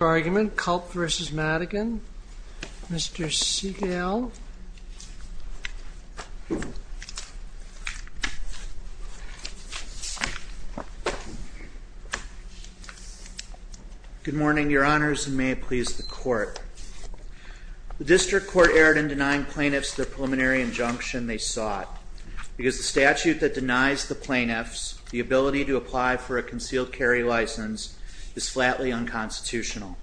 Culp v. Madigan. Mr. Segal. Good morning, Your Honors, and may it please the Court. The District Court erred in denying plaintiffs the preliminary injunction they sought, because the statute that denies the plaintiffs the ability to apply for a concealed carry license is flatly unconstitutional.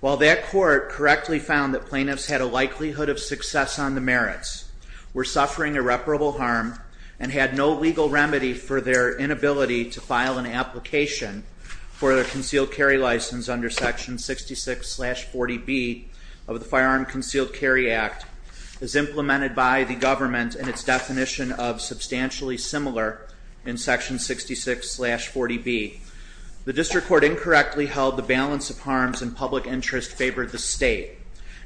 While that Court correctly found that plaintiffs had a likelihood of success on the merits, were suffering irreparable harm, and had no legal remedy for their inability to file an application for a concealed carry license under Section 66-40B of the Firearm Concealed Carry Act, as implemented by the government in its definition of substantially similar in Section 66-40B, the District Court incorrectly held the balance of harms and public interest favored the State,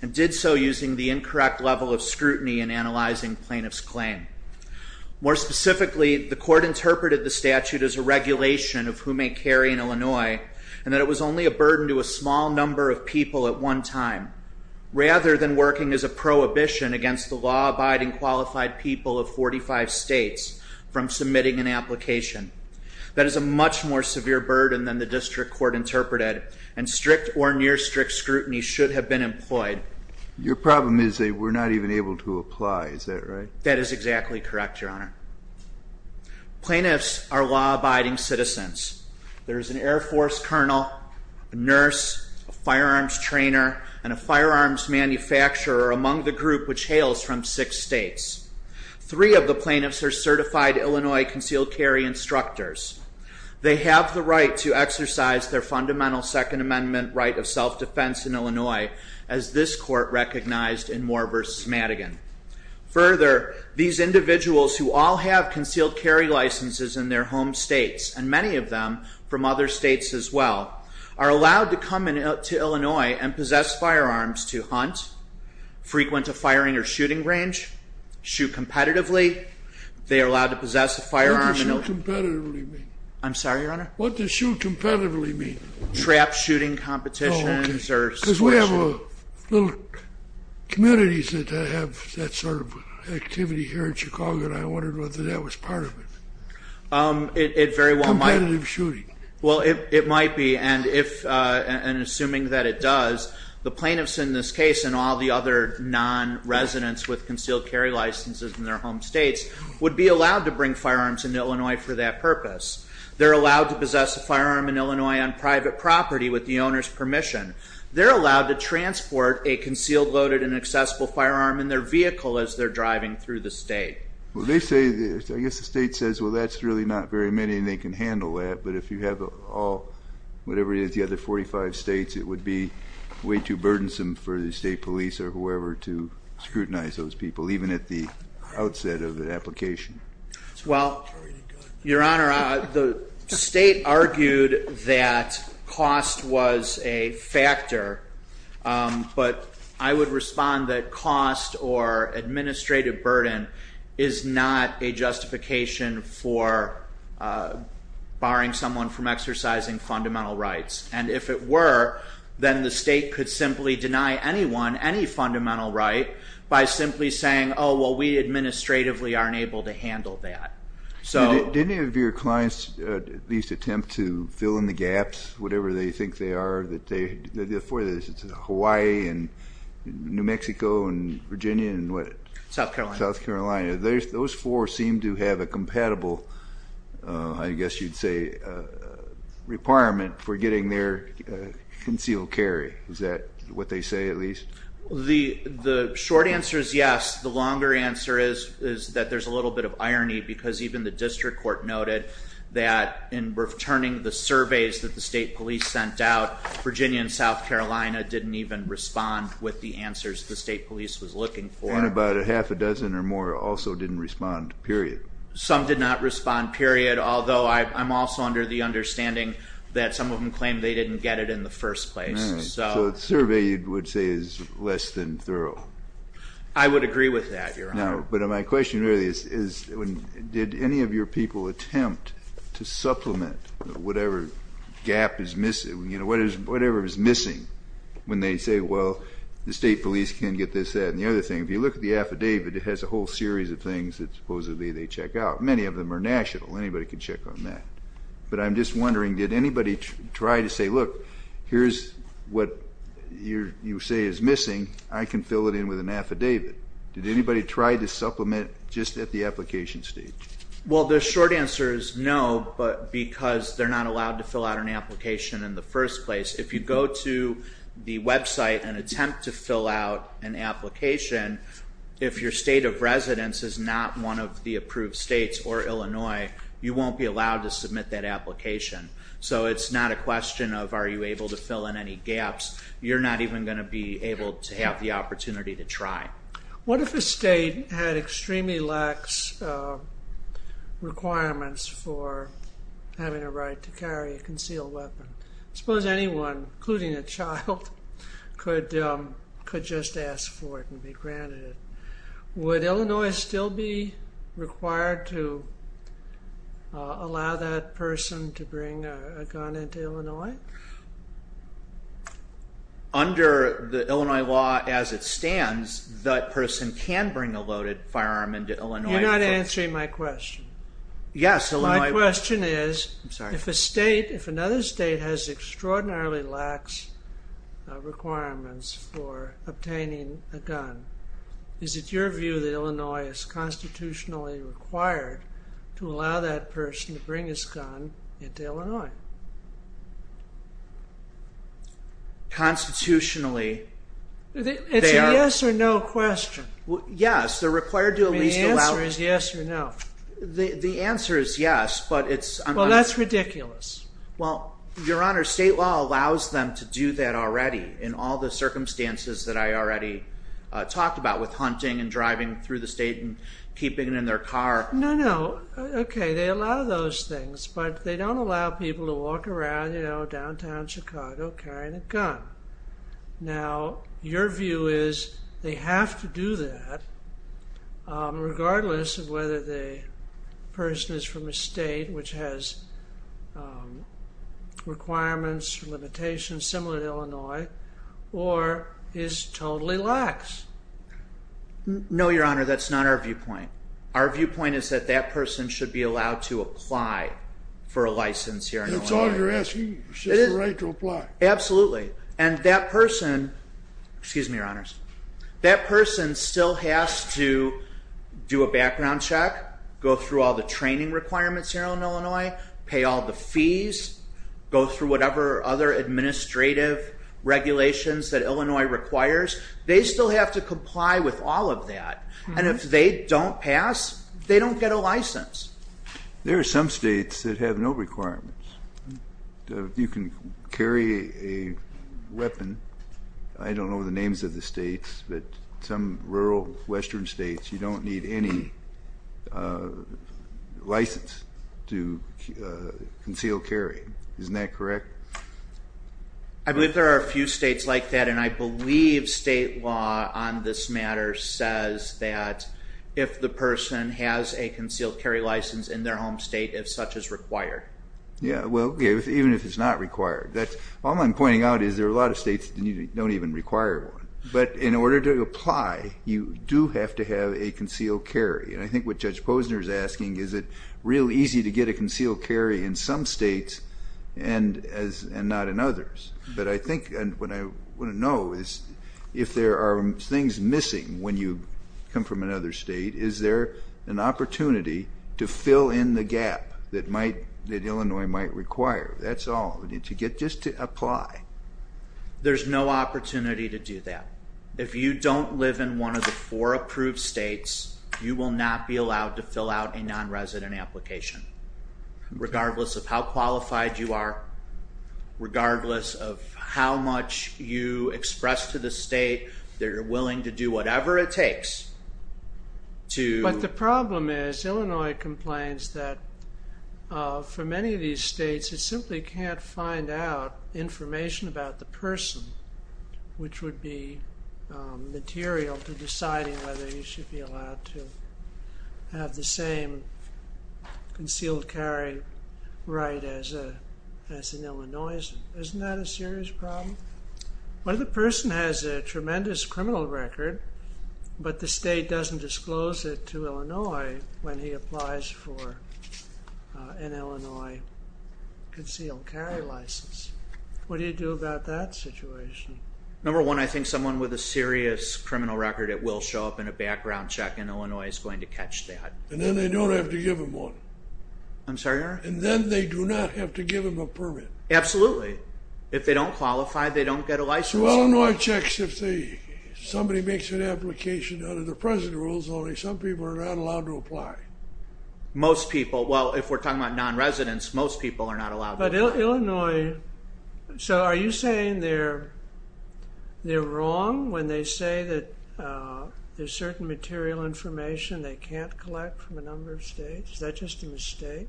and did so using the incorrect level of scrutiny in analyzing plaintiffs' claim. More specifically, the Court interpreted the statute as a regulation of who may carry in Illinois, and that it was only a burden to a small number of people at one time, rather than working as a prohibition against the law-abiding qualified people of 45 states from submitting an application. That is a much more severe burden than the District Court interpreted, and strict or near-strict scrutiny should have been employed. Your problem is that we're not even able to apply, is that right? That is exactly correct, Your Honor. Plaintiffs are law-abiding citizens. There is an Air Force colonel, a nurse, a firearms trainer, and a firearms manufacturer among the group which hails from six states. Three of the plaintiffs are certified Illinois concealed carry instructors. They have the right to exercise their fundamental Second Amendment right of self-defense in Illinois, as this Court recognized in Moore v. Madigan. Further, these individuals who all have concealed carry licenses in their home states, and many of them from other states as well, are allowed to come to Illinois and possess firearms to hunt, frequent a firing or shooting range, shoot competitively. They are allowed to possess a firearm in Illinois. What does shoot competitively mean? I'm sorry, Your Honor? What does shoot competitively mean? Trap shooting competitions or sport shooting. Because we have little communities that have that sort of activity here in Chicago, and I wondered whether that was part of it. It very well might. Competitive shooting. Well, it might be, and assuming that it does, the plaintiffs in this case and all the other non-residents with concealed carry licenses in their home states would be allowed to bring firearms into Illinois for that purpose. They're allowed to possess a firearm in Illinois on private property with the owner's permission. They're allowed to transport a concealed, loaded, and accessible firearm in their vehicle as they're driving through the state. Well, they say, I guess the state says, well, that's really not very many, and they can handle that, but if you have all, whatever it is, the other 45 states, it would be way too burdensome for the state police or whoever to scrutinize those people, even at the outset of the application. Well, Your Honor, the state argued that cost was a factor, but I would respond that cost or administrative burden is not a justification for barring someone from exercising fundamental rights, and if it were, then the state could simply deny anyone any fundamental right by simply saying, oh, well, we administratively aren't able to handle that. Did any of your clients at least attempt to fill in the gaps, whatever they think they are, Hawaii and New Mexico and Virginia and what? South Carolina. South Carolina. Those four seem to have a compatible, I guess you'd say, requirement for getting their concealed carry. Is that what they say at least? The short answer is yes. The longer answer is that there's a little bit of irony because even the district court noted that in returning the surveys that the state police sent out, Virginia and South Carolina didn't even respond with the answers the state police was looking for. And about a half a dozen or more also didn't respond, period. Some did not respond, period, although I'm also under the understanding that some of them claimed they didn't get it in the first place. So the survey, you would say, is less than thorough. I would agree with that, Your Honor. But my question really is did any of your people attempt to supplement whatever gap is missing, whatever is missing when they say, well, the state police can't get this, that, and the other thing. If you look at the affidavit, it has a whole series of things that supposedly they check out. Many of them are national. Anybody can check on that. But I'm just wondering, did anybody try to say, look, here's what you say is missing. I can fill it in with an affidavit. Did anybody try to supplement just at the application stage? Well, the short answer is no, because they're not allowed to fill out an application in the first place. If you go to the website and attempt to fill out an application, if your state of residence is not one of the approved states or Illinois, you won't be allowed to submit that application. So it's not a question of are you able to fill in any gaps. You're not even going to be able to have the opportunity to try. What if a state had extremely lax requirements for having a right to carry a concealed weapon? I suppose anyone, including a child, could just ask for it and be granted it. Would Illinois still be required to allow that person to bring a gun into Illinois? Under the Illinois law as it stands, that person can bring a loaded firearm into Illinois. You're not answering my question. My question is, if another state has extraordinarily lax requirements for obtaining a gun, is it your view that Illinois is constitutionally required to allow that person to bring his gun into Illinois? Constitutionally, they are... It's a yes or no question. Yes, they're required to at least allow... The answer is yes or no. The answer is yes, but it's... Well, that's ridiculous. Well, Your Honor, state law allows them to do that already in all the circumstances that I already talked about with hunting and driving through the state and keeping it in their car. No, no. Okay, they allow those things, but they don't allow people to walk around downtown Chicago carrying a gun. Now, your view is they have to do that regardless of whether the person is from a state which has requirements, limitations, similar to Illinois, or is totally lax. No, Your Honor, that's not our viewpoint. Our viewpoint is that that person should be allowed to apply for a license here in Illinois. That's all you're asking, is the right to apply. Absolutely, and that person... Excuse me, Your Honors. That person still has to do a background check, go through all the training requirements here in Illinois, pay all the fees, go through whatever other administrative regulations that Illinois requires. They still have to comply with all of that, and if they don't pass, they don't get a license. There are some states that have no requirements. You can carry a weapon. I don't know the names of the states, but some rural western states, you don't need any license to conceal carry. Isn't that correct? I believe there are a few states like that, and I believe state law on this matter says that if the person has a concealed carry license in their home state, if such is required. Yeah, well, even if it's not required. All I'm pointing out is there are a lot of states that don't even require one. But in order to apply, you do have to have a concealed carry. And I think what Judge Posner is asking, is it real easy to get a concealed carry in some states and not in others? But I think what I want to know is if there are things missing when you come from another state, is there an opportunity to fill in the gap that Illinois might require? That's all. Just to apply. There's no opportunity to do that. If you don't live in one of the four approved states, you will not be allowed to fill out a nonresident application, regardless of how qualified you are, regardless of how much you express to the state that you're willing to do whatever it takes to... But the problem is Illinois complains that for many of these states, it simply can't find out information about the person, which would be material to deciding whether you should be allowed to have the same concealed carry right as in Illinois. Isn't that a serious problem? Well, the person has a tremendous criminal record, but the state doesn't disclose it to Illinois when he applies for an Illinois concealed carry license. What do you do about that situation? Number one, I think someone with a serious criminal record that will show up in a background check in Illinois is going to catch that. And then they don't have to give them one. I'm sorry, Your Honor? And then they do not have to give them a permit. Absolutely. If they don't qualify, they don't get a license. In Illinois checks, if somebody makes an application under the present rules only, some people are not allowed to apply. Most people. Well, if we're talking about non-residents, most people are not allowed to apply. But Illinois... So are you saying they're wrong when they say that there's certain material information they can't collect from a number of states? Is that just a mistake?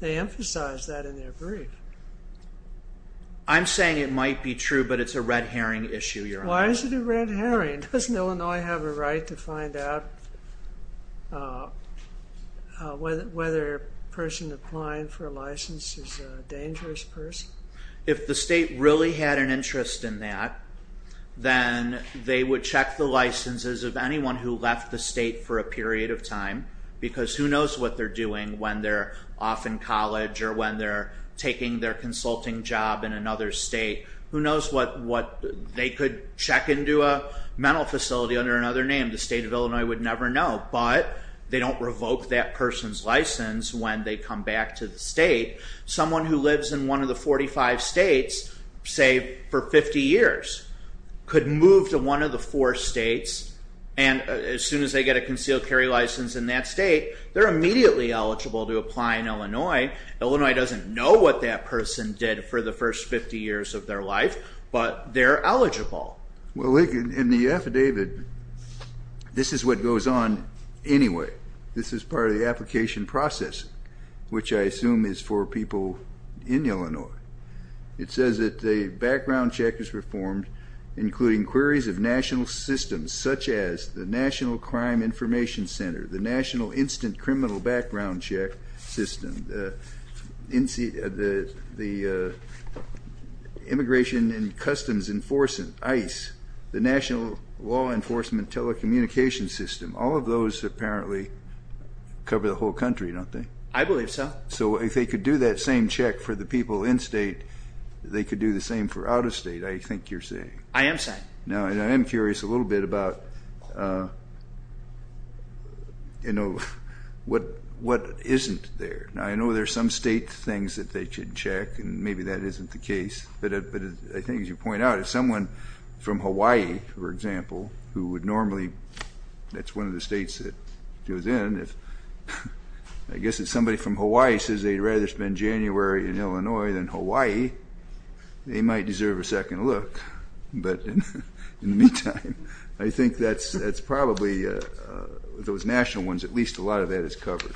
They emphasize that in their brief. I'm saying it might be true, but it's a red herring issue, Your Honor. Why is it a red herring? Doesn't Illinois have a right to find out whether a person applying for a license is a dangerous person? If the state really had an interest in that, then they would check the licenses of anyone who left the state for a period of time, because who knows what they're doing when they're off in college or when they're taking their consulting job in another state. Who knows what they could check into a mental facility under another name. The state of Illinois would never know. But they don't revoke that person's license when they come back to the state. Someone who lives in one of the 45 states, say, for 50 years, could move to one of the four states, and as soon as they get a concealed carry license in that state, they're immediately eligible to apply in Illinois. Illinois doesn't know what that person did for the first 50 years of their life, but they're eligible. Well, in the affidavit, this is what goes on anyway. This is part of the application process, which I assume is for people in Illinois. It says that a background check is performed, including queries of national systems, such as the National Crime Information Center, the National Instant Criminal Background Check System, the Immigration and Customs Enforcement, ICE, the National Law Enforcement Telecommunication System. All of those apparently cover the whole country, don't they? I believe so. So if they could do that same check for the people in-state, they could do the same for out-of-state, I think you're saying. I am saying. Now, I am curious a little bit about, you know, what isn't there. I know there are some state things that they could check, and maybe that isn't the case, but I think, as you point out, if someone from Hawaii, for example, who would normally – that's one of the states that it was in. I guess if somebody from Hawaii says they'd rather spend January in Illinois than Hawaii, they might deserve a second look. But in the meantime, I think that's probably those national ones, at least a lot of that is covered.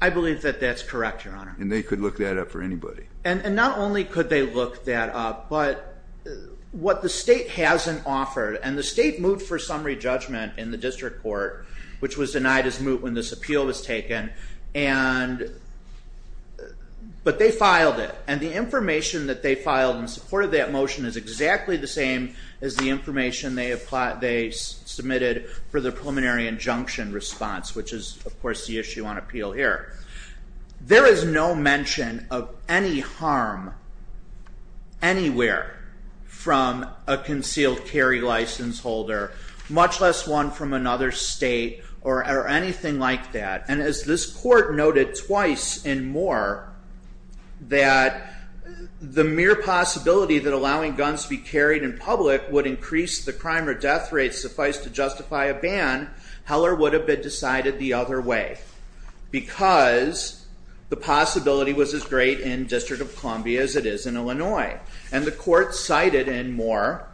I believe that that's correct, Your Honor. And they could look that up for anybody. And not only could they look that up, but what the state hasn't offered, and the state moved for summary judgment in the district court, which was denied its move when this appeal was taken, but they filed it. And the information that they filed in support of that motion is exactly the same as the information they submitted for the preliminary injunction response, which is, of course, the issue on appeal here. There is no mention of any harm anywhere from a concealed carry license holder, much less one from another state or anything like that. And as this court noted twice in Moore that the mere possibility that allowing guns to be carried in public would increase the crime or death rate suffice to justify a ban, Heller would have been decided the other way because the possibility was as great in District of Columbia as it is in Illinois. And the court cited in Moore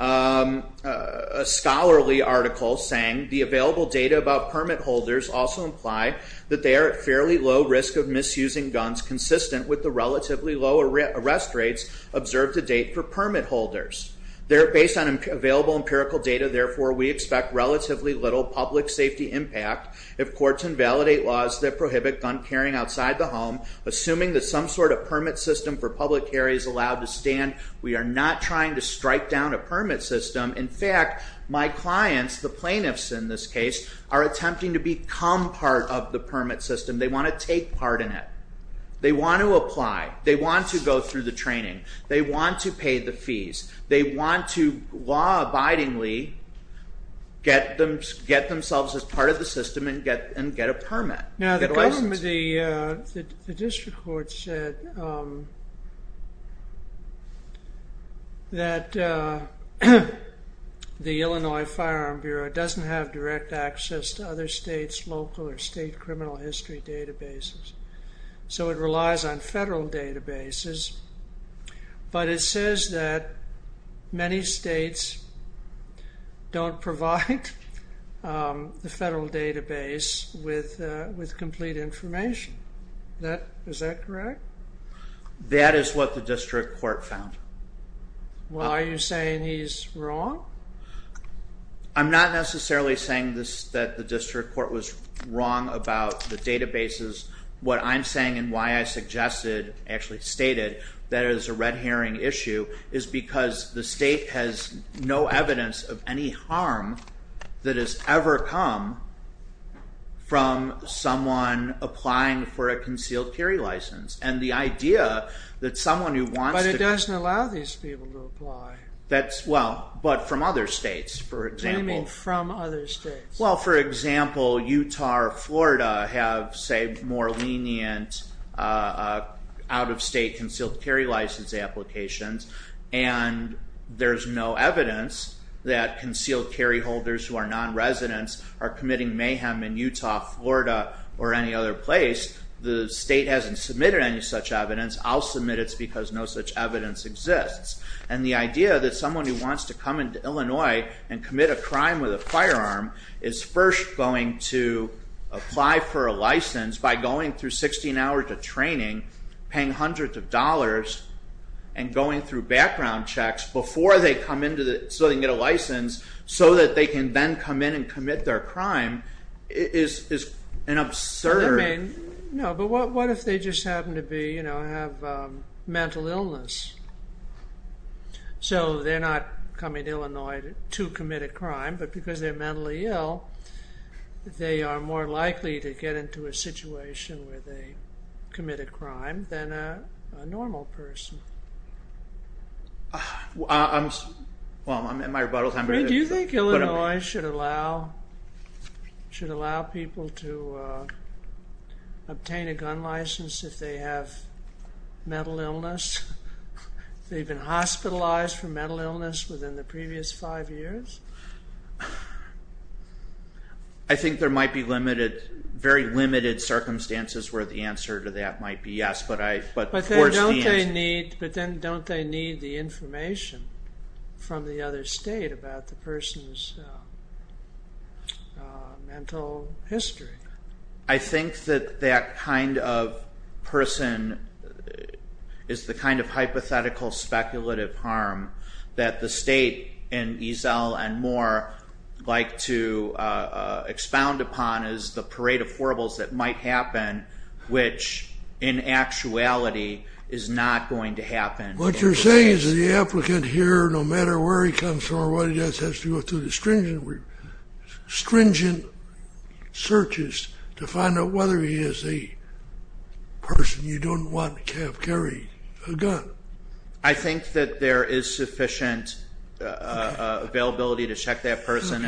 a scholarly article saying, and the available data about permit holders also imply that they are at fairly low risk of misusing guns consistent with the relatively low arrest rates observed to date for permit holders. Based on available empirical data, therefore, we expect relatively little public safety impact if courts invalidate laws that prohibit gun carrying outside the home, assuming that some sort of permit system for public carry is allowed to stand. We are not trying to strike down a permit system. In fact, my clients, the plaintiffs in this case, are attempting to become part of the permit system. They want to take part in it. They want to apply. They want to go through the training. They want to pay the fees. They want to law-abidingly get themselves as part of the system and get a permit, get a license. Some of the district courts said that the Illinois Firearm Bureau doesn't have direct access to other states' local or state criminal history databases, so it relies on federal databases. But it says that many states don't provide the federal database with complete information. Is that correct? That is what the district court found. Well, are you saying he's wrong? I'm not necessarily saying that the district court was wrong about the databases. What I'm saying and why I actually stated that it is a red herring issue is because the state has no evidence of any harm that has ever come from someone applying for a concealed carry license. But it doesn't allow these people to apply. But from other states, for example. What do you mean from other states? Well, for example, Utah or Florida have, say, more lenient out-of-state concealed carry license applications, and there's no evidence that concealed carry holders who are non-residents are committing mayhem in Utah, Florida, or any other place. The state hasn't submitted any such evidence. I'll submit it's because no such evidence exists. And the idea that someone who wants to come into Illinois and commit a crime with a firearm is first going to apply for a license by going through 16 hours of training, paying hundreds of dollars, and going through background checks before they come in so they can get a license so that they can then come in and commit their crime is an absurd. But what if they just happen to have mental illness? So they're not coming to Illinois to commit a crime, but because they're mentally ill, they are more likely to get into a situation where they commit a crime than a normal person. Well, I'm at my rebuttal time. Do you think Illinois should allow people to obtain a gun license if they have mental illness? They've been hospitalized for mental illness within the previous five years? I think there might be very limited circumstances where the answer to that might be yes. But then don't they need the information from the other state about the person's mental history? I think that that kind of person is the kind of hypothetical speculative harm that the state and Eazell and Moore like to expound upon as the parade of horribles that might happen, which in actuality is not going to happen. What you're saying is the applicant here, no matter where he comes from or what he does, has to go through the stringent searches to find out whether he is a person you don't want to carry a gun. I think that there is sufficient availability to check that person,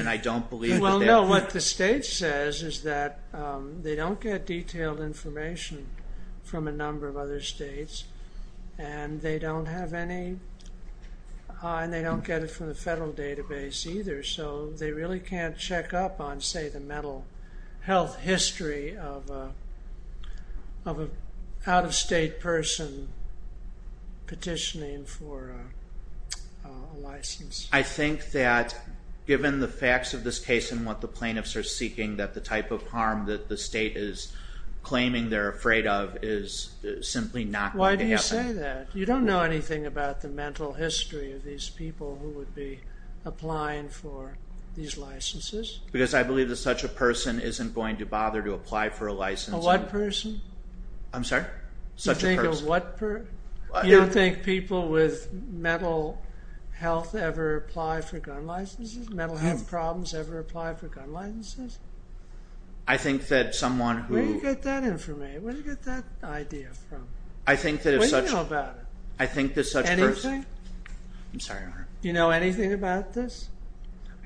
What the state says is that they don't get detailed information from a number of other states, and they don't get it from the federal database either, so they really can't check up on, say, the mental health history of an out-of-state person petitioning for a license. I think that given the facts of this case and what the plaintiffs are seeking, that the type of harm that the state is claiming they're afraid of is simply not going to happen. Why do you say that? You don't know anything about the mental history of these people who would be applying for these licenses? Because I believe that such a person isn't going to bother to apply for a license. A what person? I'm sorry? Such a person. You don't think people with mental health ever apply for gun licenses? Mental health problems ever apply for gun licenses? I think that someone who... Where do you get that information? Where do you get that idea from? I think that if such... What do you know about it? I think that such a person... Anything? I'm sorry, Your Honor. Do you know anything about this?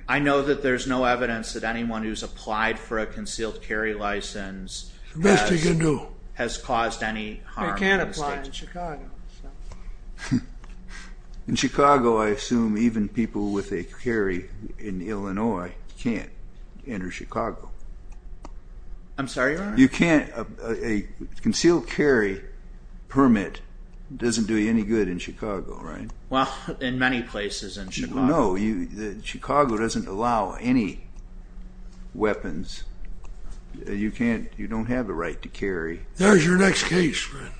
I know that there's no evidence that anyone who's applied for a concealed carry license has caused any harm in the state. In Chicago, I assume even people with a carry in Illinois can't enter Chicago. I'm sorry, Your Honor? You can't... A concealed carry permit doesn't do you any good in Chicago, right? Well, in many places in Chicago. No. Chicago doesn't allow any weapons. You can't... You don't have the right to carry. There's your next case, friend.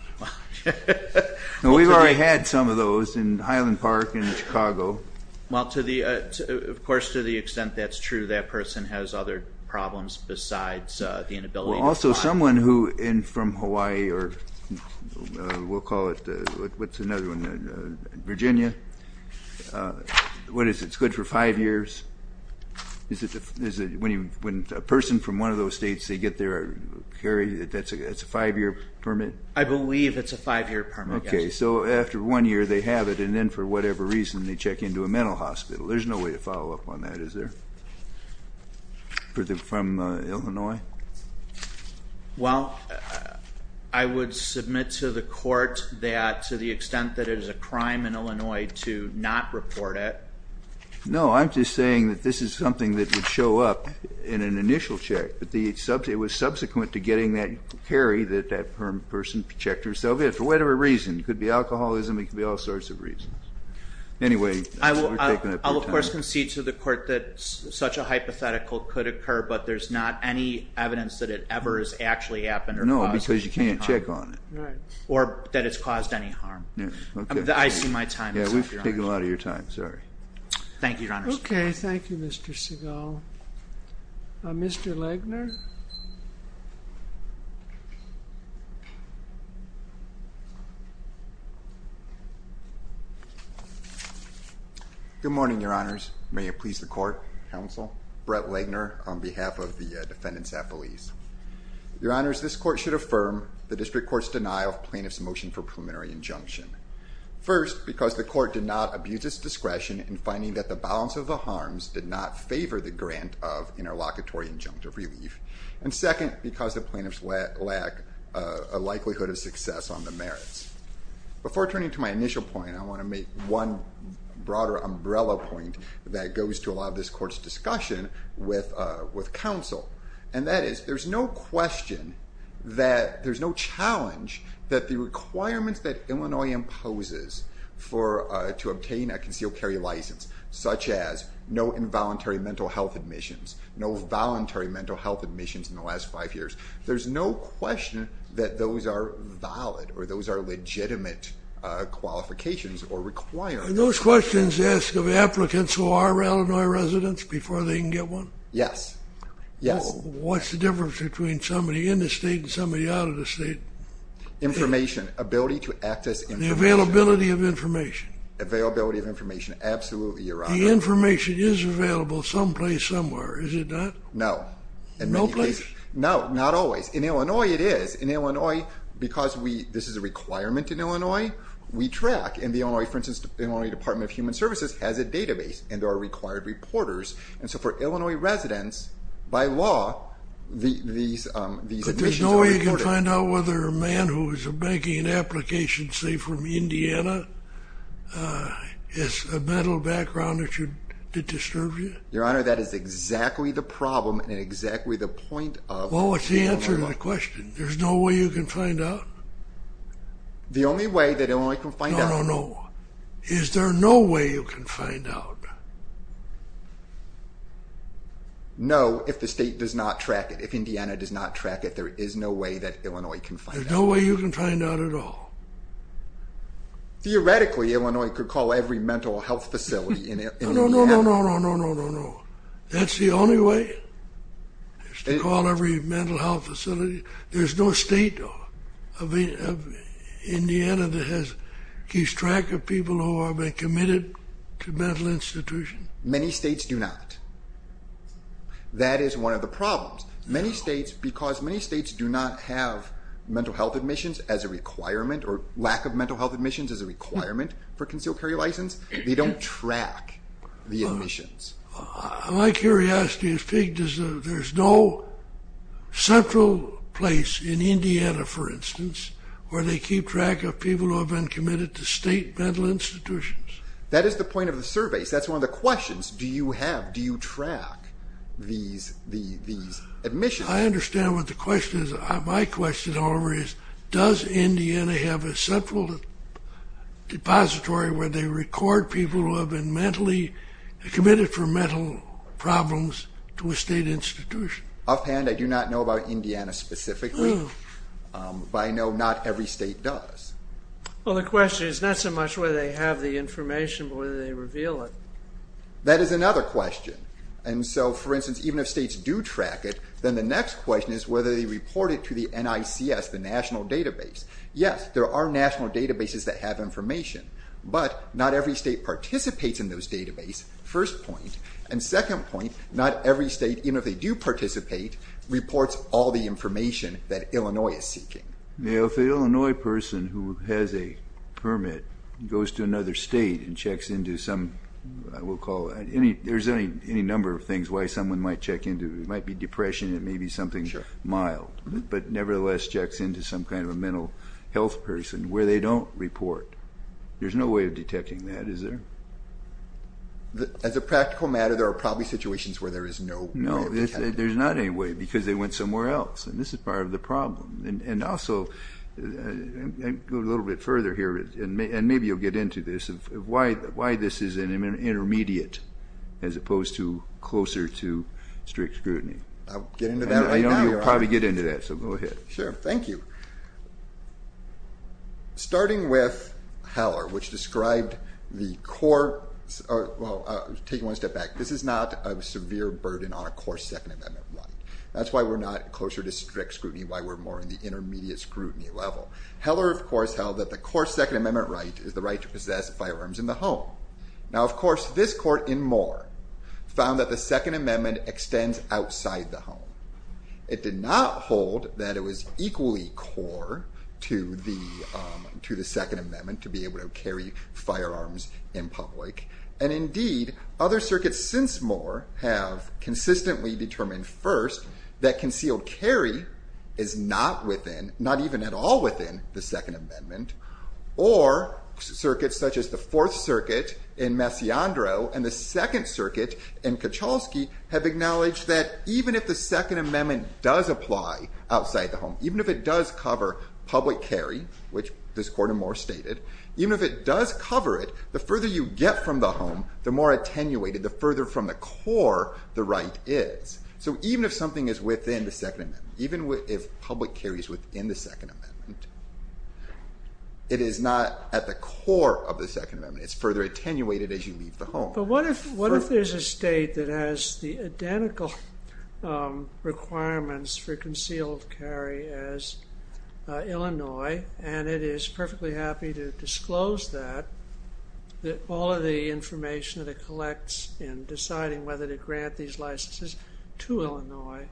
We've already had some of those in Highland Park in Chicago. Well, of course, to the extent that's true, that person has other problems besides the inability to fly. Also, someone who is from Hawaii or we'll call it... What's another one? Virginia. What is it? It's good for five years? Is it when a person from one of those states, they get their carry, that's a five-year permit? I believe it's a five-year permit, yes. Okay, so after one year they have it, and then for whatever reason they check into a mental hospital. There's no way to follow up on that, is there? From Illinois? Well, I would submit to the court that to the extent that it is a crime in Illinois to not report it. No, I'm just saying that this is something that would show up in an initial check. It was subsequent to getting that carry that that person checked herself in, for whatever reason. It could be alcoholism. It could be all sorts of reasons. Anyway, we're taking up your time. I will, of course, concede to the court that such a hypothetical could occur, but there's not any evidence that it ever has actually happened or caused any harm. No, because you can't check on it. Or that it's caused any harm. I see my time is up, Your Honor. Yeah, we've taken a lot of your time. Sorry. Thank you, Your Honor. Okay, thank you, Mr. Segal. Mr. Legner? Good morning, Your Honors. May it please the court, counsel? Brett Legner on behalf of the defendants' affilies. Your Honors, this court should affirm the district court's denial of plaintiff's motion for preliminary injunction. First, because the court did not abuse its discretion in finding that the balance of the harms did not favor the grant of interlocutory injunctive relief. And second, because the plaintiffs lack a likelihood of success on the merits. Before turning to my initial point, I want to make one broader umbrella point that goes to a lot of this court's discussion with counsel. And that is, there's no question that there's no challenge that the requirements that Illinois imposes to obtain a concealed carry license, such as no involuntary mental health admissions, no voluntary mental health admissions in the last five years, there's no question that those are valid or those are legitimate qualifications or requirements. And those questions ask of applicants who are Illinois residents before they can get one? Yes. What's the difference between somebody in the state and somebody out of the state? Information. Ability to access information. The availability of information. Availability of information. Absolutely, Your Honor. The information is available someplace, somewhere, is it not? No. No place? No, not always. In Illinois, it is. In Illinois, because this is a requirement in Illinois, we track. And the Illinois, for instance, Illinois Department of Human Services has a database, and there are required reporters. And so for Illinois residents, by law, these admissions are reported. And they can find out whether a man who is making an application, say from Indiana, has a mental background that disturbs you? Your Honor, that is exactly the problem and exactly the point of Illinois. Well, what's the answer to the question? There's no way you can find out? The only way that Illinois can find out. No, no, no. Is there no way you can find out? No, if the state does not track it, if Indiana does not track it, there is no way that Illinois can find out. There's no way you can find out at all? Theoretically, Illinois could call every mental health facility in Indiana. No, no, no, no, no, no, no, no. That's the only way? Is to call every mental health facility? There's no state of Indiana that keeps track of people who have been committed to mental institutions? Many states do not. That is one of the problems. Many states, because many states do not have mental health admissions as a requirement or lack of mental health admissions as a requirement for a concealed carry license, they don't track the admissions. My curiosity is there's no central place in Indiana, for instance, where they keep track of people who have been committed to state mental institutions? That is the point of the survey. That's one of the questions. Do you track these admissions? I understand what the question is. My question, however, is does Indiana have a central depository where they record people who have been mentally committed for mental problems to a state institution? Offhand, I do not know about Indiana specifically, but I know not every state does. Well, the question is not so much whether they have the information, but whether they reveal it. That is another question. For instance, even if states do track it, then the next question is whether they report it to the NICS, the national database. Yes, there are national databases that have information, but not every state participates in those databases, first point. Second point, not every state, even if they do participate, reports all the information that Illinois is seeking. If an Illinois person who has a permit goes to another state and checks into some, I will call it, there's any number of things why someone might check into. It might be depression, it may be something mild, but nevertheless checks into some kind of a mental health person where they don't report. There's no way of detecting that, is there? As a practical matter, there are probably situations where there is no way of detecting it. No, there's not any way because they went somewhere else, and this is part of the problem. And also, go a little bit further here, and maybe you'll get into this, why this is an intermediate as opposed to closer to strict scrutiny. I'll get into that right now. I know you'll probably get into that, so go ahead. Sure, thank you. Starting with Heller, which described the core, well, taking one step back, this is not a severe burden on a core Second Amendment right. That's why we're not closer to strict scrutiny, why we're more in the intermediate scrutiny level. Heller, of course, held that the core Second Amendment right is the right to possess firearms in the home. Now, of course, this court in Moore found that the Second Amendment extends outside the home. It did not hold that it was equally core to the Second Amendment to be able to carry firearms in public, and indeed, other circuits since Moore have consistently determined first that concealed carry is not within, not even at all within the Second Amendment, or circuits such as the Fourth Circuit in Messiandro and the Second Circuit in Kachalski have acknowledged that even if the Second Amendment does apply outside the home, even if it does cover public carry, which this court in Moore stated, even if it does cover it, the further you get from the home, the more attenuated, the further from the core the right is. So even if something is within the Second Amendment, even if public carry is within the Second Amendment, it is not at the core of the Second Amendment. It's further attenuated as you leave the home. But what if there's a state that has the identical requirements for concealed carry as Illinois, and it is perfectly happy to disclose that, that all of the information that it collects in deciding whether to grant these licenses to Illinois?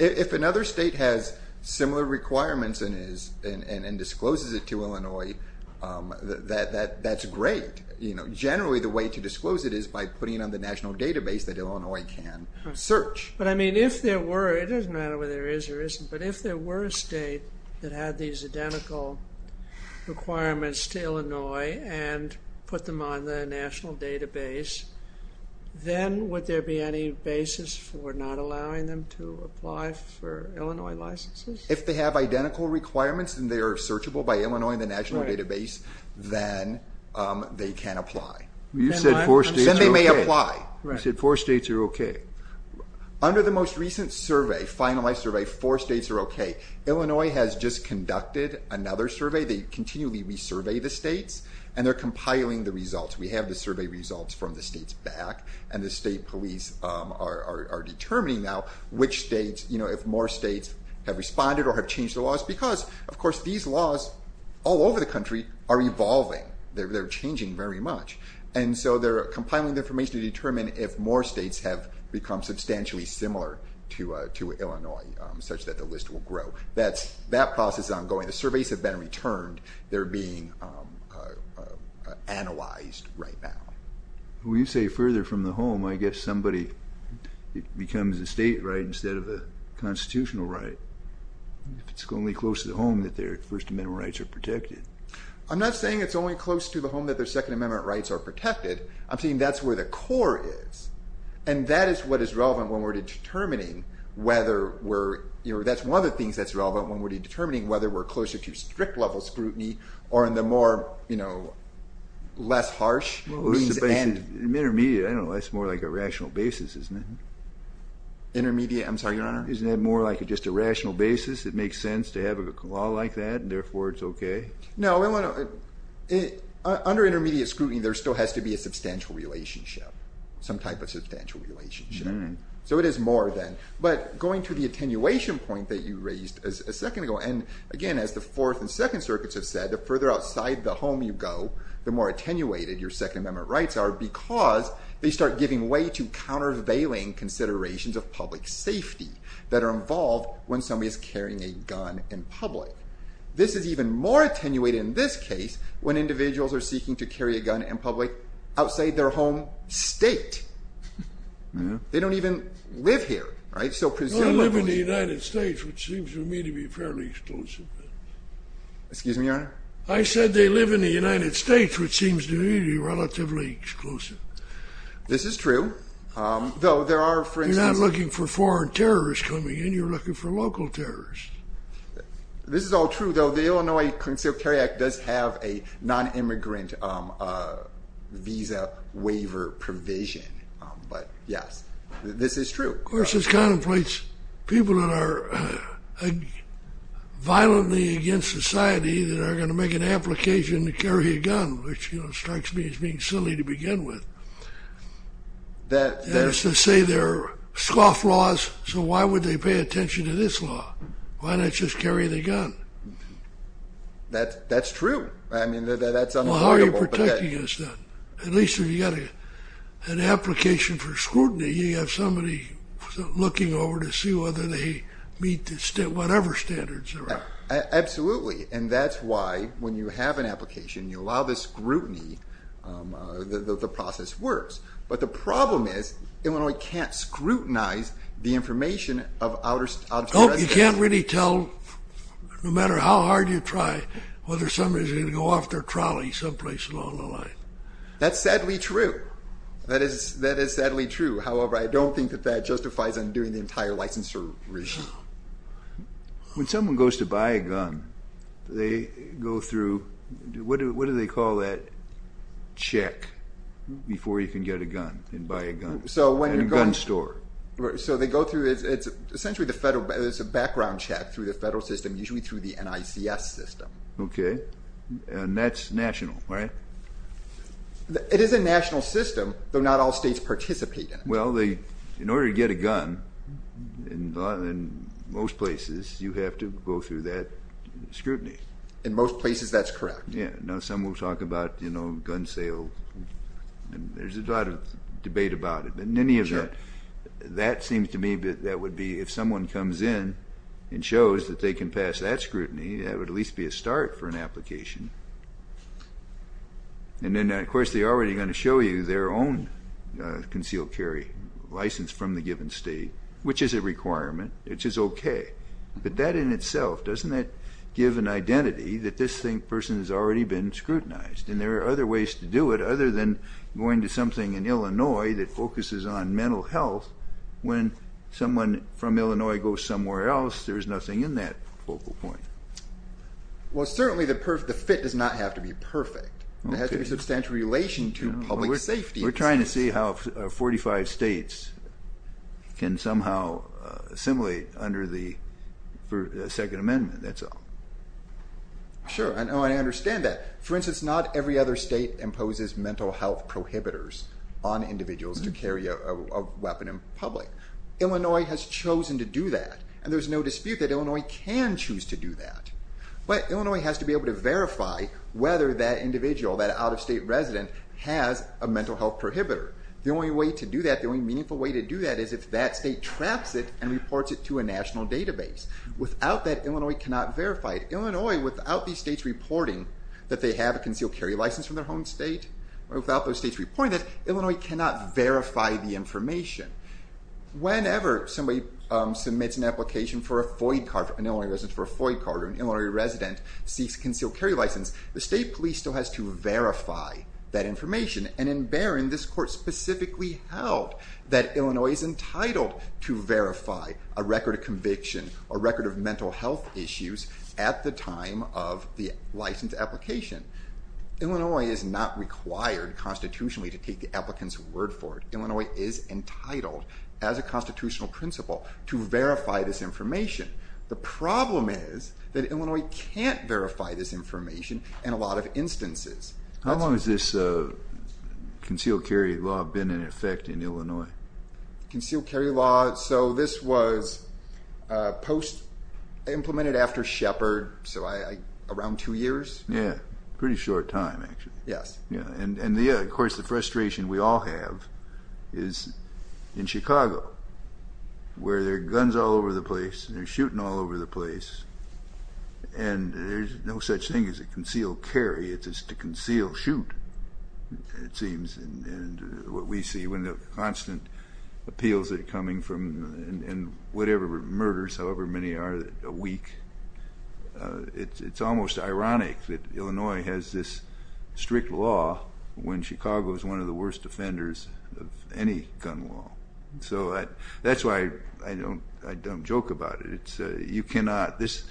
If another state has similar requirements and discloses it to Illinois, that's great. Generally the way to disclose it is by putting it on the national database that Illinois can search. But I mean, if there were, it doesn't matter whether there is or isn't, but if there were a state that had these identical requirements to Illinois and put them on the national database, then would there be any basis for not allowing them to apply for Illinois licenses? If they have identical requirements and they are searchable by Illinois in the national database, then they can apply. You said four states are okay. Then they may apply. You said four states are okay. Under the most recent survey, finalized survey, four states are okay. They continually resurvey the states, and they're compiling the results. We have the survey results from the states back, and the state police are determining now which states, if more states have responded or have changed the laws because, of course, these laws all over the country are evolving. They're changing very much. And so they're compiling the information to determine if more states have become substantially similar to Illinois, such that the list will grow. That process is ongoing. The surveys have been returned. They're being analyzed right now. Well, you say further from the home, I guess somebody becomes a state right instead of a constitutional right. It's only close to the home that their First Amendment rights are protected. I'm not saying it's only close to the home that their Second Amendment rights are protected. I'm saying that's where the core is, and that is what is relevant when we're determining whether we're, you know, that's one of the things that's relevant when we're determining whether we're closer to strict-level scrutiny or in the more, you know, less harsh means and... Well, what's the basis? Intermediate, I don't know. That's more like a rational basis, isn't it? Intermediate? I'm sorry, Your Honor? Isn't that more like just a rational basis? It makes sense to have a law like that, and therefore it's okay? No, no, no. Under intermediate scrutiny, there still has to be a substantial relationship, some type of substantial relationship. Mm-hmm. So it is more than. But going to the attenuation point that you raised a second ago, and again, as the Fourth and Second Circuits have said, the further outside the home you go, the more attenuated your Second Amendment rights are because they start giving way to countervailing considerations of public safety that are involved when somebody is carrying a gun in public. This is even more attenuated in this case when individuals are seeking to carry a gun in public outside their home state. Mm-hmm. They don't even live here, right? They don't live in the United States, which seems to me to be fairly exclusive. Excuse me, Your Honor? I said they live in the United States, which seems to me to be relatively exclusive. This is true, though there are, for instance... You're not looking for foreign terrorists coming in. You're looking for local terrorists. This is all true, though. The Illinois Concealed Carry Act does have a nonimmigrant visa waiver provision. But, yes, this is true. Of course, this contemplates people that are violently against society that are going to make an application to carry a gun, which strikes me as being silly to begin with. That is to say they're scofflaws, so why would they pay attention to this law? Why not just carry the gun? That's true. I mean, that's unacceptable. Well, how are you protecting us then? At least if you've got an application for scrutiny, you have somebody looking over to see whether they meet whatever standards there are. Absolutely, and that's why when you have an application, you allow the scrutiny, the process works. But the problem is Illinois can't scrutinize the information of out-of-state residents. You can't really tell, no matter how hard you try, whether somebody's going to go off their trolley someplace along the line. That's sadly true. That is sadly true. However, I don't think that that justifies undoing the entire licensure regime. When someone goes to buy a gun, they go through, what do they call that check before you can get a gun and buy a gun at a gun store? So they go through, it's essentially the federal, it's a background check through the federal system, usually through the NICS system. Okay, and that's national, right? It is a national system, though not all states participate in it. Well, in order to get a gun, in most places, you have to go through that scrutiny. In most places, that's correct. Yeah, now some will talk about gun sales, and there's a lot of debate about it, but in any event, that seems to me that that would be, if someone comes in and shows that they can pass that scrutiny, that would at least be a start for an application. And then, of course, they're already going to show you their own concealed carry license from the given state, which is a requirement, which is okay. But that in itself, doesn't that give an identity that this person has already been scrutinized? And there are other ways to do it, other than going to something in Illinois that focuses on mental health. When someone from Illinois goes somewhere else, there's nothing in that focal point. Well, certainly the fit does not have to be perfect. There has to be substantial relation to public safety. We're trying to see how 45 states can somehow assimilate under the Second Amendment, that's all. Sure, and I understand that. For instance, not every other state imposes mental health prohibitors on individuals to carry a weapon in public. Illinois has chosen to do that, and there's no dispute that Illinois can choose to do that. But Illinois has to be able to verify whether that individual, that out-of-state resident, has a mental health prohibitor. The only way to do that, the only meaningful way to do that, is if that state traps it and reports it to a national database. Without that, Illinois cannot verify it. Illinois, without these states reporting that they have a concealed carry license from their home state, or without those states reporting it, Illinois cannot verify the information. Whenever somebody submits an application for a FOID card, an Illinois resident for a FOID card, or an Illinois resident seeks a concealed carry license, the state police still has to verify that information. And in Barron, this court specifically held that Illinois is entitled to verify a record of conviction, a record of mental health issues, at the time of the license application. Illinois is not required constitutionally to take the applicant's word for it. Illinois is entitled, as a constitutional principle, to verify this information. The problem is that Illinois can't verify this information in a lot of instances. How long has this concealed carry law been in effect in Illinois? Concealed carry law, so this was post-implemented after Shepard, so around two years. Yeah, pretty short time, actually. Yes. And yeah, of course, the frustration we all have is in Chicago, where there are guns all over the place, they're shooting all over the place, and there's no such thing as a concealed carry, it's just a concealed shoot, it seems. And what we see when the constant appeals are coming from whatever murders, however many are, a week, it's almost ironic that Illinois has this strict law when Chicago is one of the worst offenders of any gun law. So that's why I don't joke about it. You cannot, this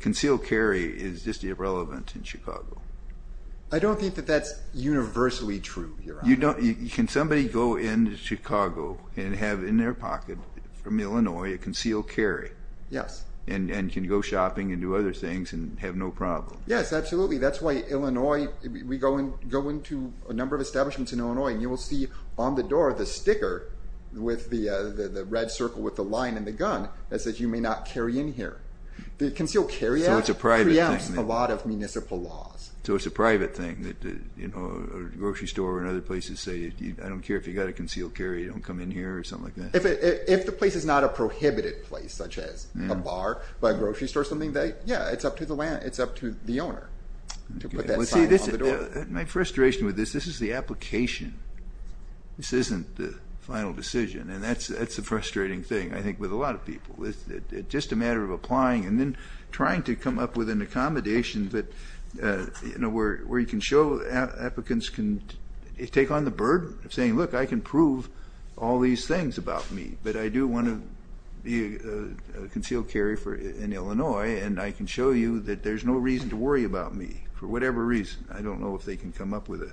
concealed carry is just irrelevant in Chicago. I don't think that that's universally true here. You don't, can somebody go into Chicago and have in their pocket from Illinois a concealed carry? Yes. And can go shopping and do other things and have no problem. Yes, absolutely, that's why Illinois, we go into a number of establishments in Illinois and you will see on the door the sticker with the red circle with the line and the gun that says you may not carry in here. The concealed carry act preempts a lot of municipal laws. So it's a private thing, a grocery store and other places say I don't care if you've got a concealed carry, you don't come in here, or something like that? If the place is not a prohibited place such as a bar or a grocery store, something that, yeah, it's up to the owner to put that sign on the door. My frustration with this, this is the application. This isn't the final decision and that's the frustrating thing, I think, with a lot of people. It's just a matter of applying and then trying to come up with an accommodation that, you know, where you can show applicants can take on the burden of saying look, I can prove all these things about me, but I do want to be a concealed carry in Illinois and I can show you that there's no reason to worry about me for whatever reason. I don't know if they can come up with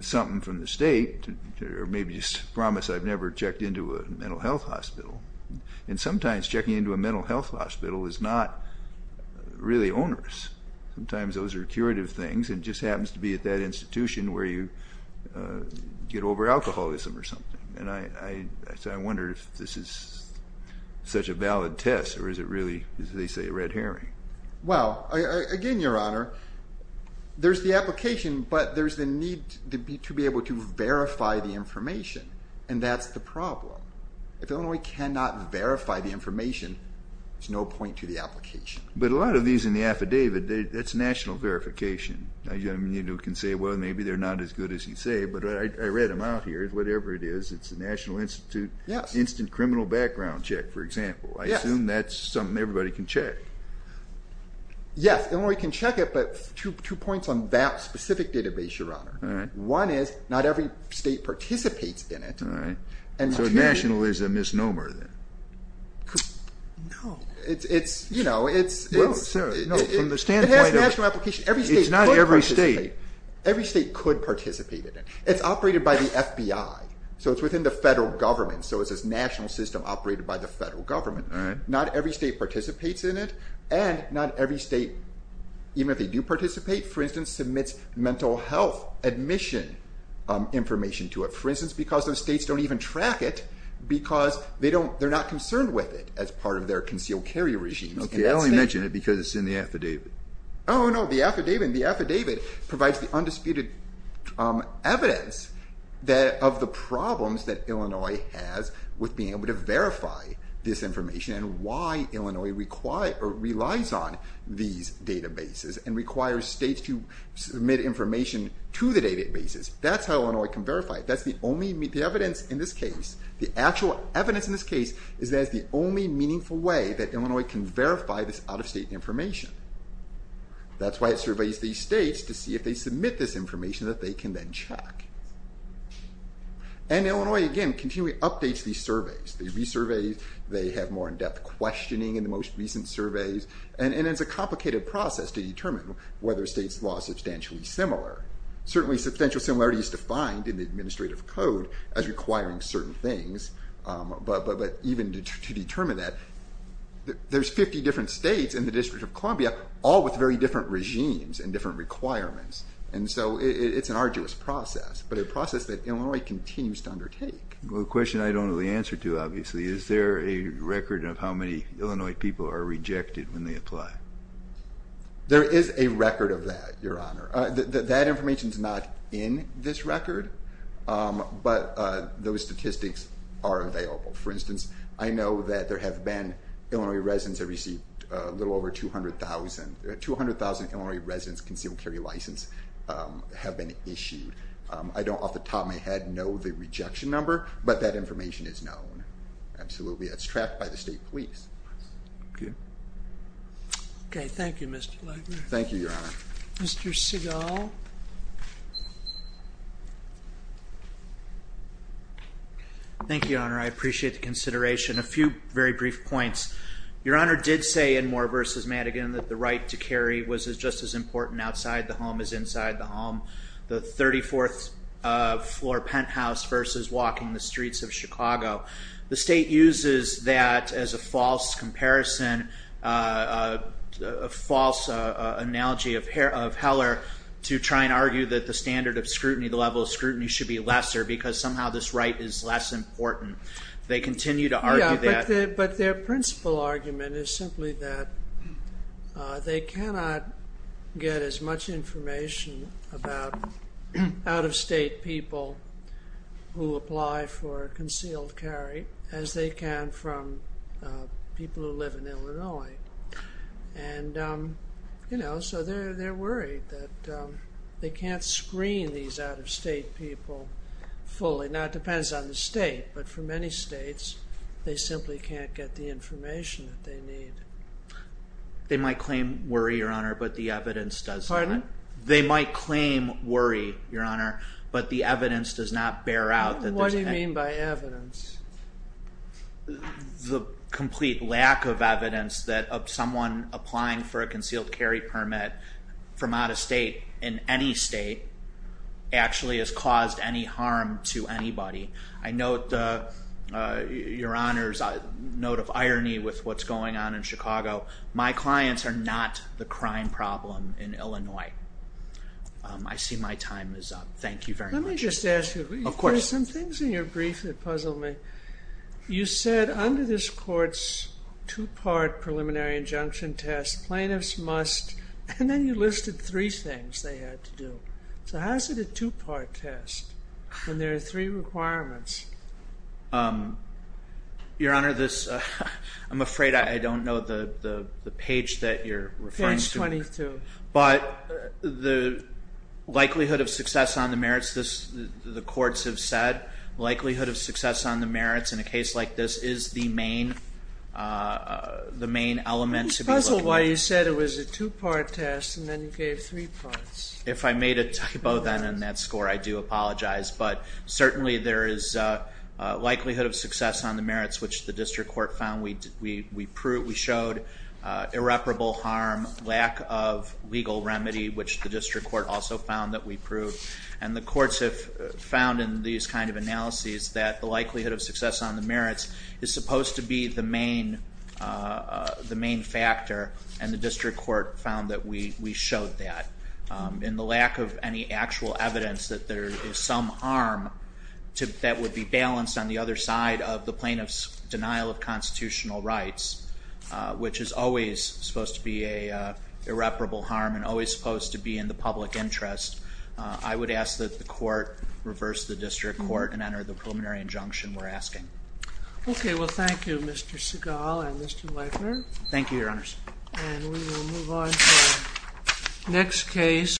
something from the state or maybe just promise I've never checked into a mental health hospital. And sometimes checking into a mental health hospital is not really onerous. Sometimes those are curative things and it just happens to be at that institution where you get over alcoholism or something. And I wonder if this is such a valid test or is it really, as they say, a red herring. Well, again, Your Honor, there's the application, but there's the need to be able to verify the information and that's the problem. If Illinois cannot verify the information, there's no point to the application. But a lot of these in the affidavit, that's national verification. You can say, well, maybe they're not as good as you say, but I read them out here, whatever it is, it's the National Institute Instant Criminal Background Check, for example. I assume that's something everybody can check. Yes, Illinois can check it, but two points on that specific database, Your Honor. One is, not every state participates in it. All right. So national is a misnomer then? No. It's, you know, it's... Well, Sarah, no, from the standpoint of... Not every state. Every state could participate in it. It's operated by the FBI, so it's within the federal government, so it's a national system operated by the federal government. Not every state participates in it, and not every state, even if they do participate, for instance, submits mental health admission information to it, for instance, because those states don't even track it because they're not concerned with it as part of their concealed carry regime. Okay, I only mention it because it's in the affidavit. Oh, no, the affidavit provides the undisputed evidence of the problems that Illinois has with being able to verify this information and why Illinois relies on these databases and requires states to submit information to the databases. That's how Illinois can verify it. That's the evidence in this case. The actual evidence in this case is that it's the only meaningful way that Illinois can verify this out-of-state information. That's why it surveys these states to see if they submit this information that they can then check. And Illinois, again, continually updates these surveys. They resurvey, they have more in-depth questioning in the most recent surveys, and it's a complicated process to determine whether a state's law is substantially similar. Certainly substantial similarity is defined in the administrative code as requiring certain things, but even to determine that, there's 50 different states in the District of Columbia all with very different regimes and different requirements, and so it's an arduous process, but a process that Illinois continues to undertake. Well, a question I don't know the answer to, obviously. Is there a record of how many Illinois people are rejected when they apply? There is a record of that, Your Honor. That information's not in this record, but those statistics are available. For instance, I know that there have been Illinois residents that received a little over 200,000. 200,000 Illinois residents with a concealed carry license have been issued. I don't off the top of my head know the rejection number, but that information is known, absolutely. It's tracked by the state police. Okay. Okay, thank you, Mr. Legler. Thank you, Your Honor. Mr. Segal? Thank you, Your Honor. I appreciate the consideration. A few very brief points. Your Honor did say in Moore v. Madigan that the right to carry was just as important outside the home as inside the home, the 34th floor penthouse versus walking the streets of Chicago. The state uses that as a false comparison, a false analogy of Heller to try and argue that the standard of scrutiny, the level of scrutiny should be lesser because somehow this right is less important. They continue to argue that. Yeah, but their principal argument is simply that they cannot get as much information about out-of-state people as they can from people who live in Illinois. And, you know, so they're worried that they can't screen these out-of-state people fully. Now, it depends on the state, but for many states, they simply can't get the information that they need. They might claim worry, Your Honor, but the evidence does not. Pardon? They might claim worry, Your Honor, but the evidence does not bear out. What do you mean by evidence? The complete lack of evidence that someone applying for a concealed carry permit from out-of-state in any state actually has caused any harm to anybody. I note, Your Honor's note of irony with what's going on in Chicago. My clients are not the crime problem in Illinois. I see my time is up. Thank you very much. Let me just ask you. Of course. There were some things in your brief that puzzled me. You said under this court's two-part preliminary injunction test, plaintiffs must... And then you listed three things they had to do. So how is it a two-part test when there are three requirements? Your Honor, this... I'm afraid I don't know the page that you're referring to. Page 22. But the likelihood of success on the merits, the courts have said, likelihood of success on the merits in a case like this is the main element to be looked at. I'm puzzled why you said it was a two-part test and then you gave three parts. If I made a typo then in that score, I do apologize. But certainly there is likelihood of success on the merits, which the district court found we proved, we showed irreparable harm, lack of legal remedy, which the district court also found that we proved. And the courts have found in these kind of analyses that the likelihood of success on the merits is supposed to be the main factor, and the district court found that we showed that. In the lack of any actual evidence that there is some harm that would be balanced on the other side of the plaintiff's denial of constitutional rights, which is always supposed to be an irreparable harm and always supposed to be in the public interest, I would ask that the court reverse the district court and enter the preliminary injunction we're asking. Okay, well, thank you, Mr. Seagal and Mr. Leifner. Thank you, Your Honors. And we will move on to our next case.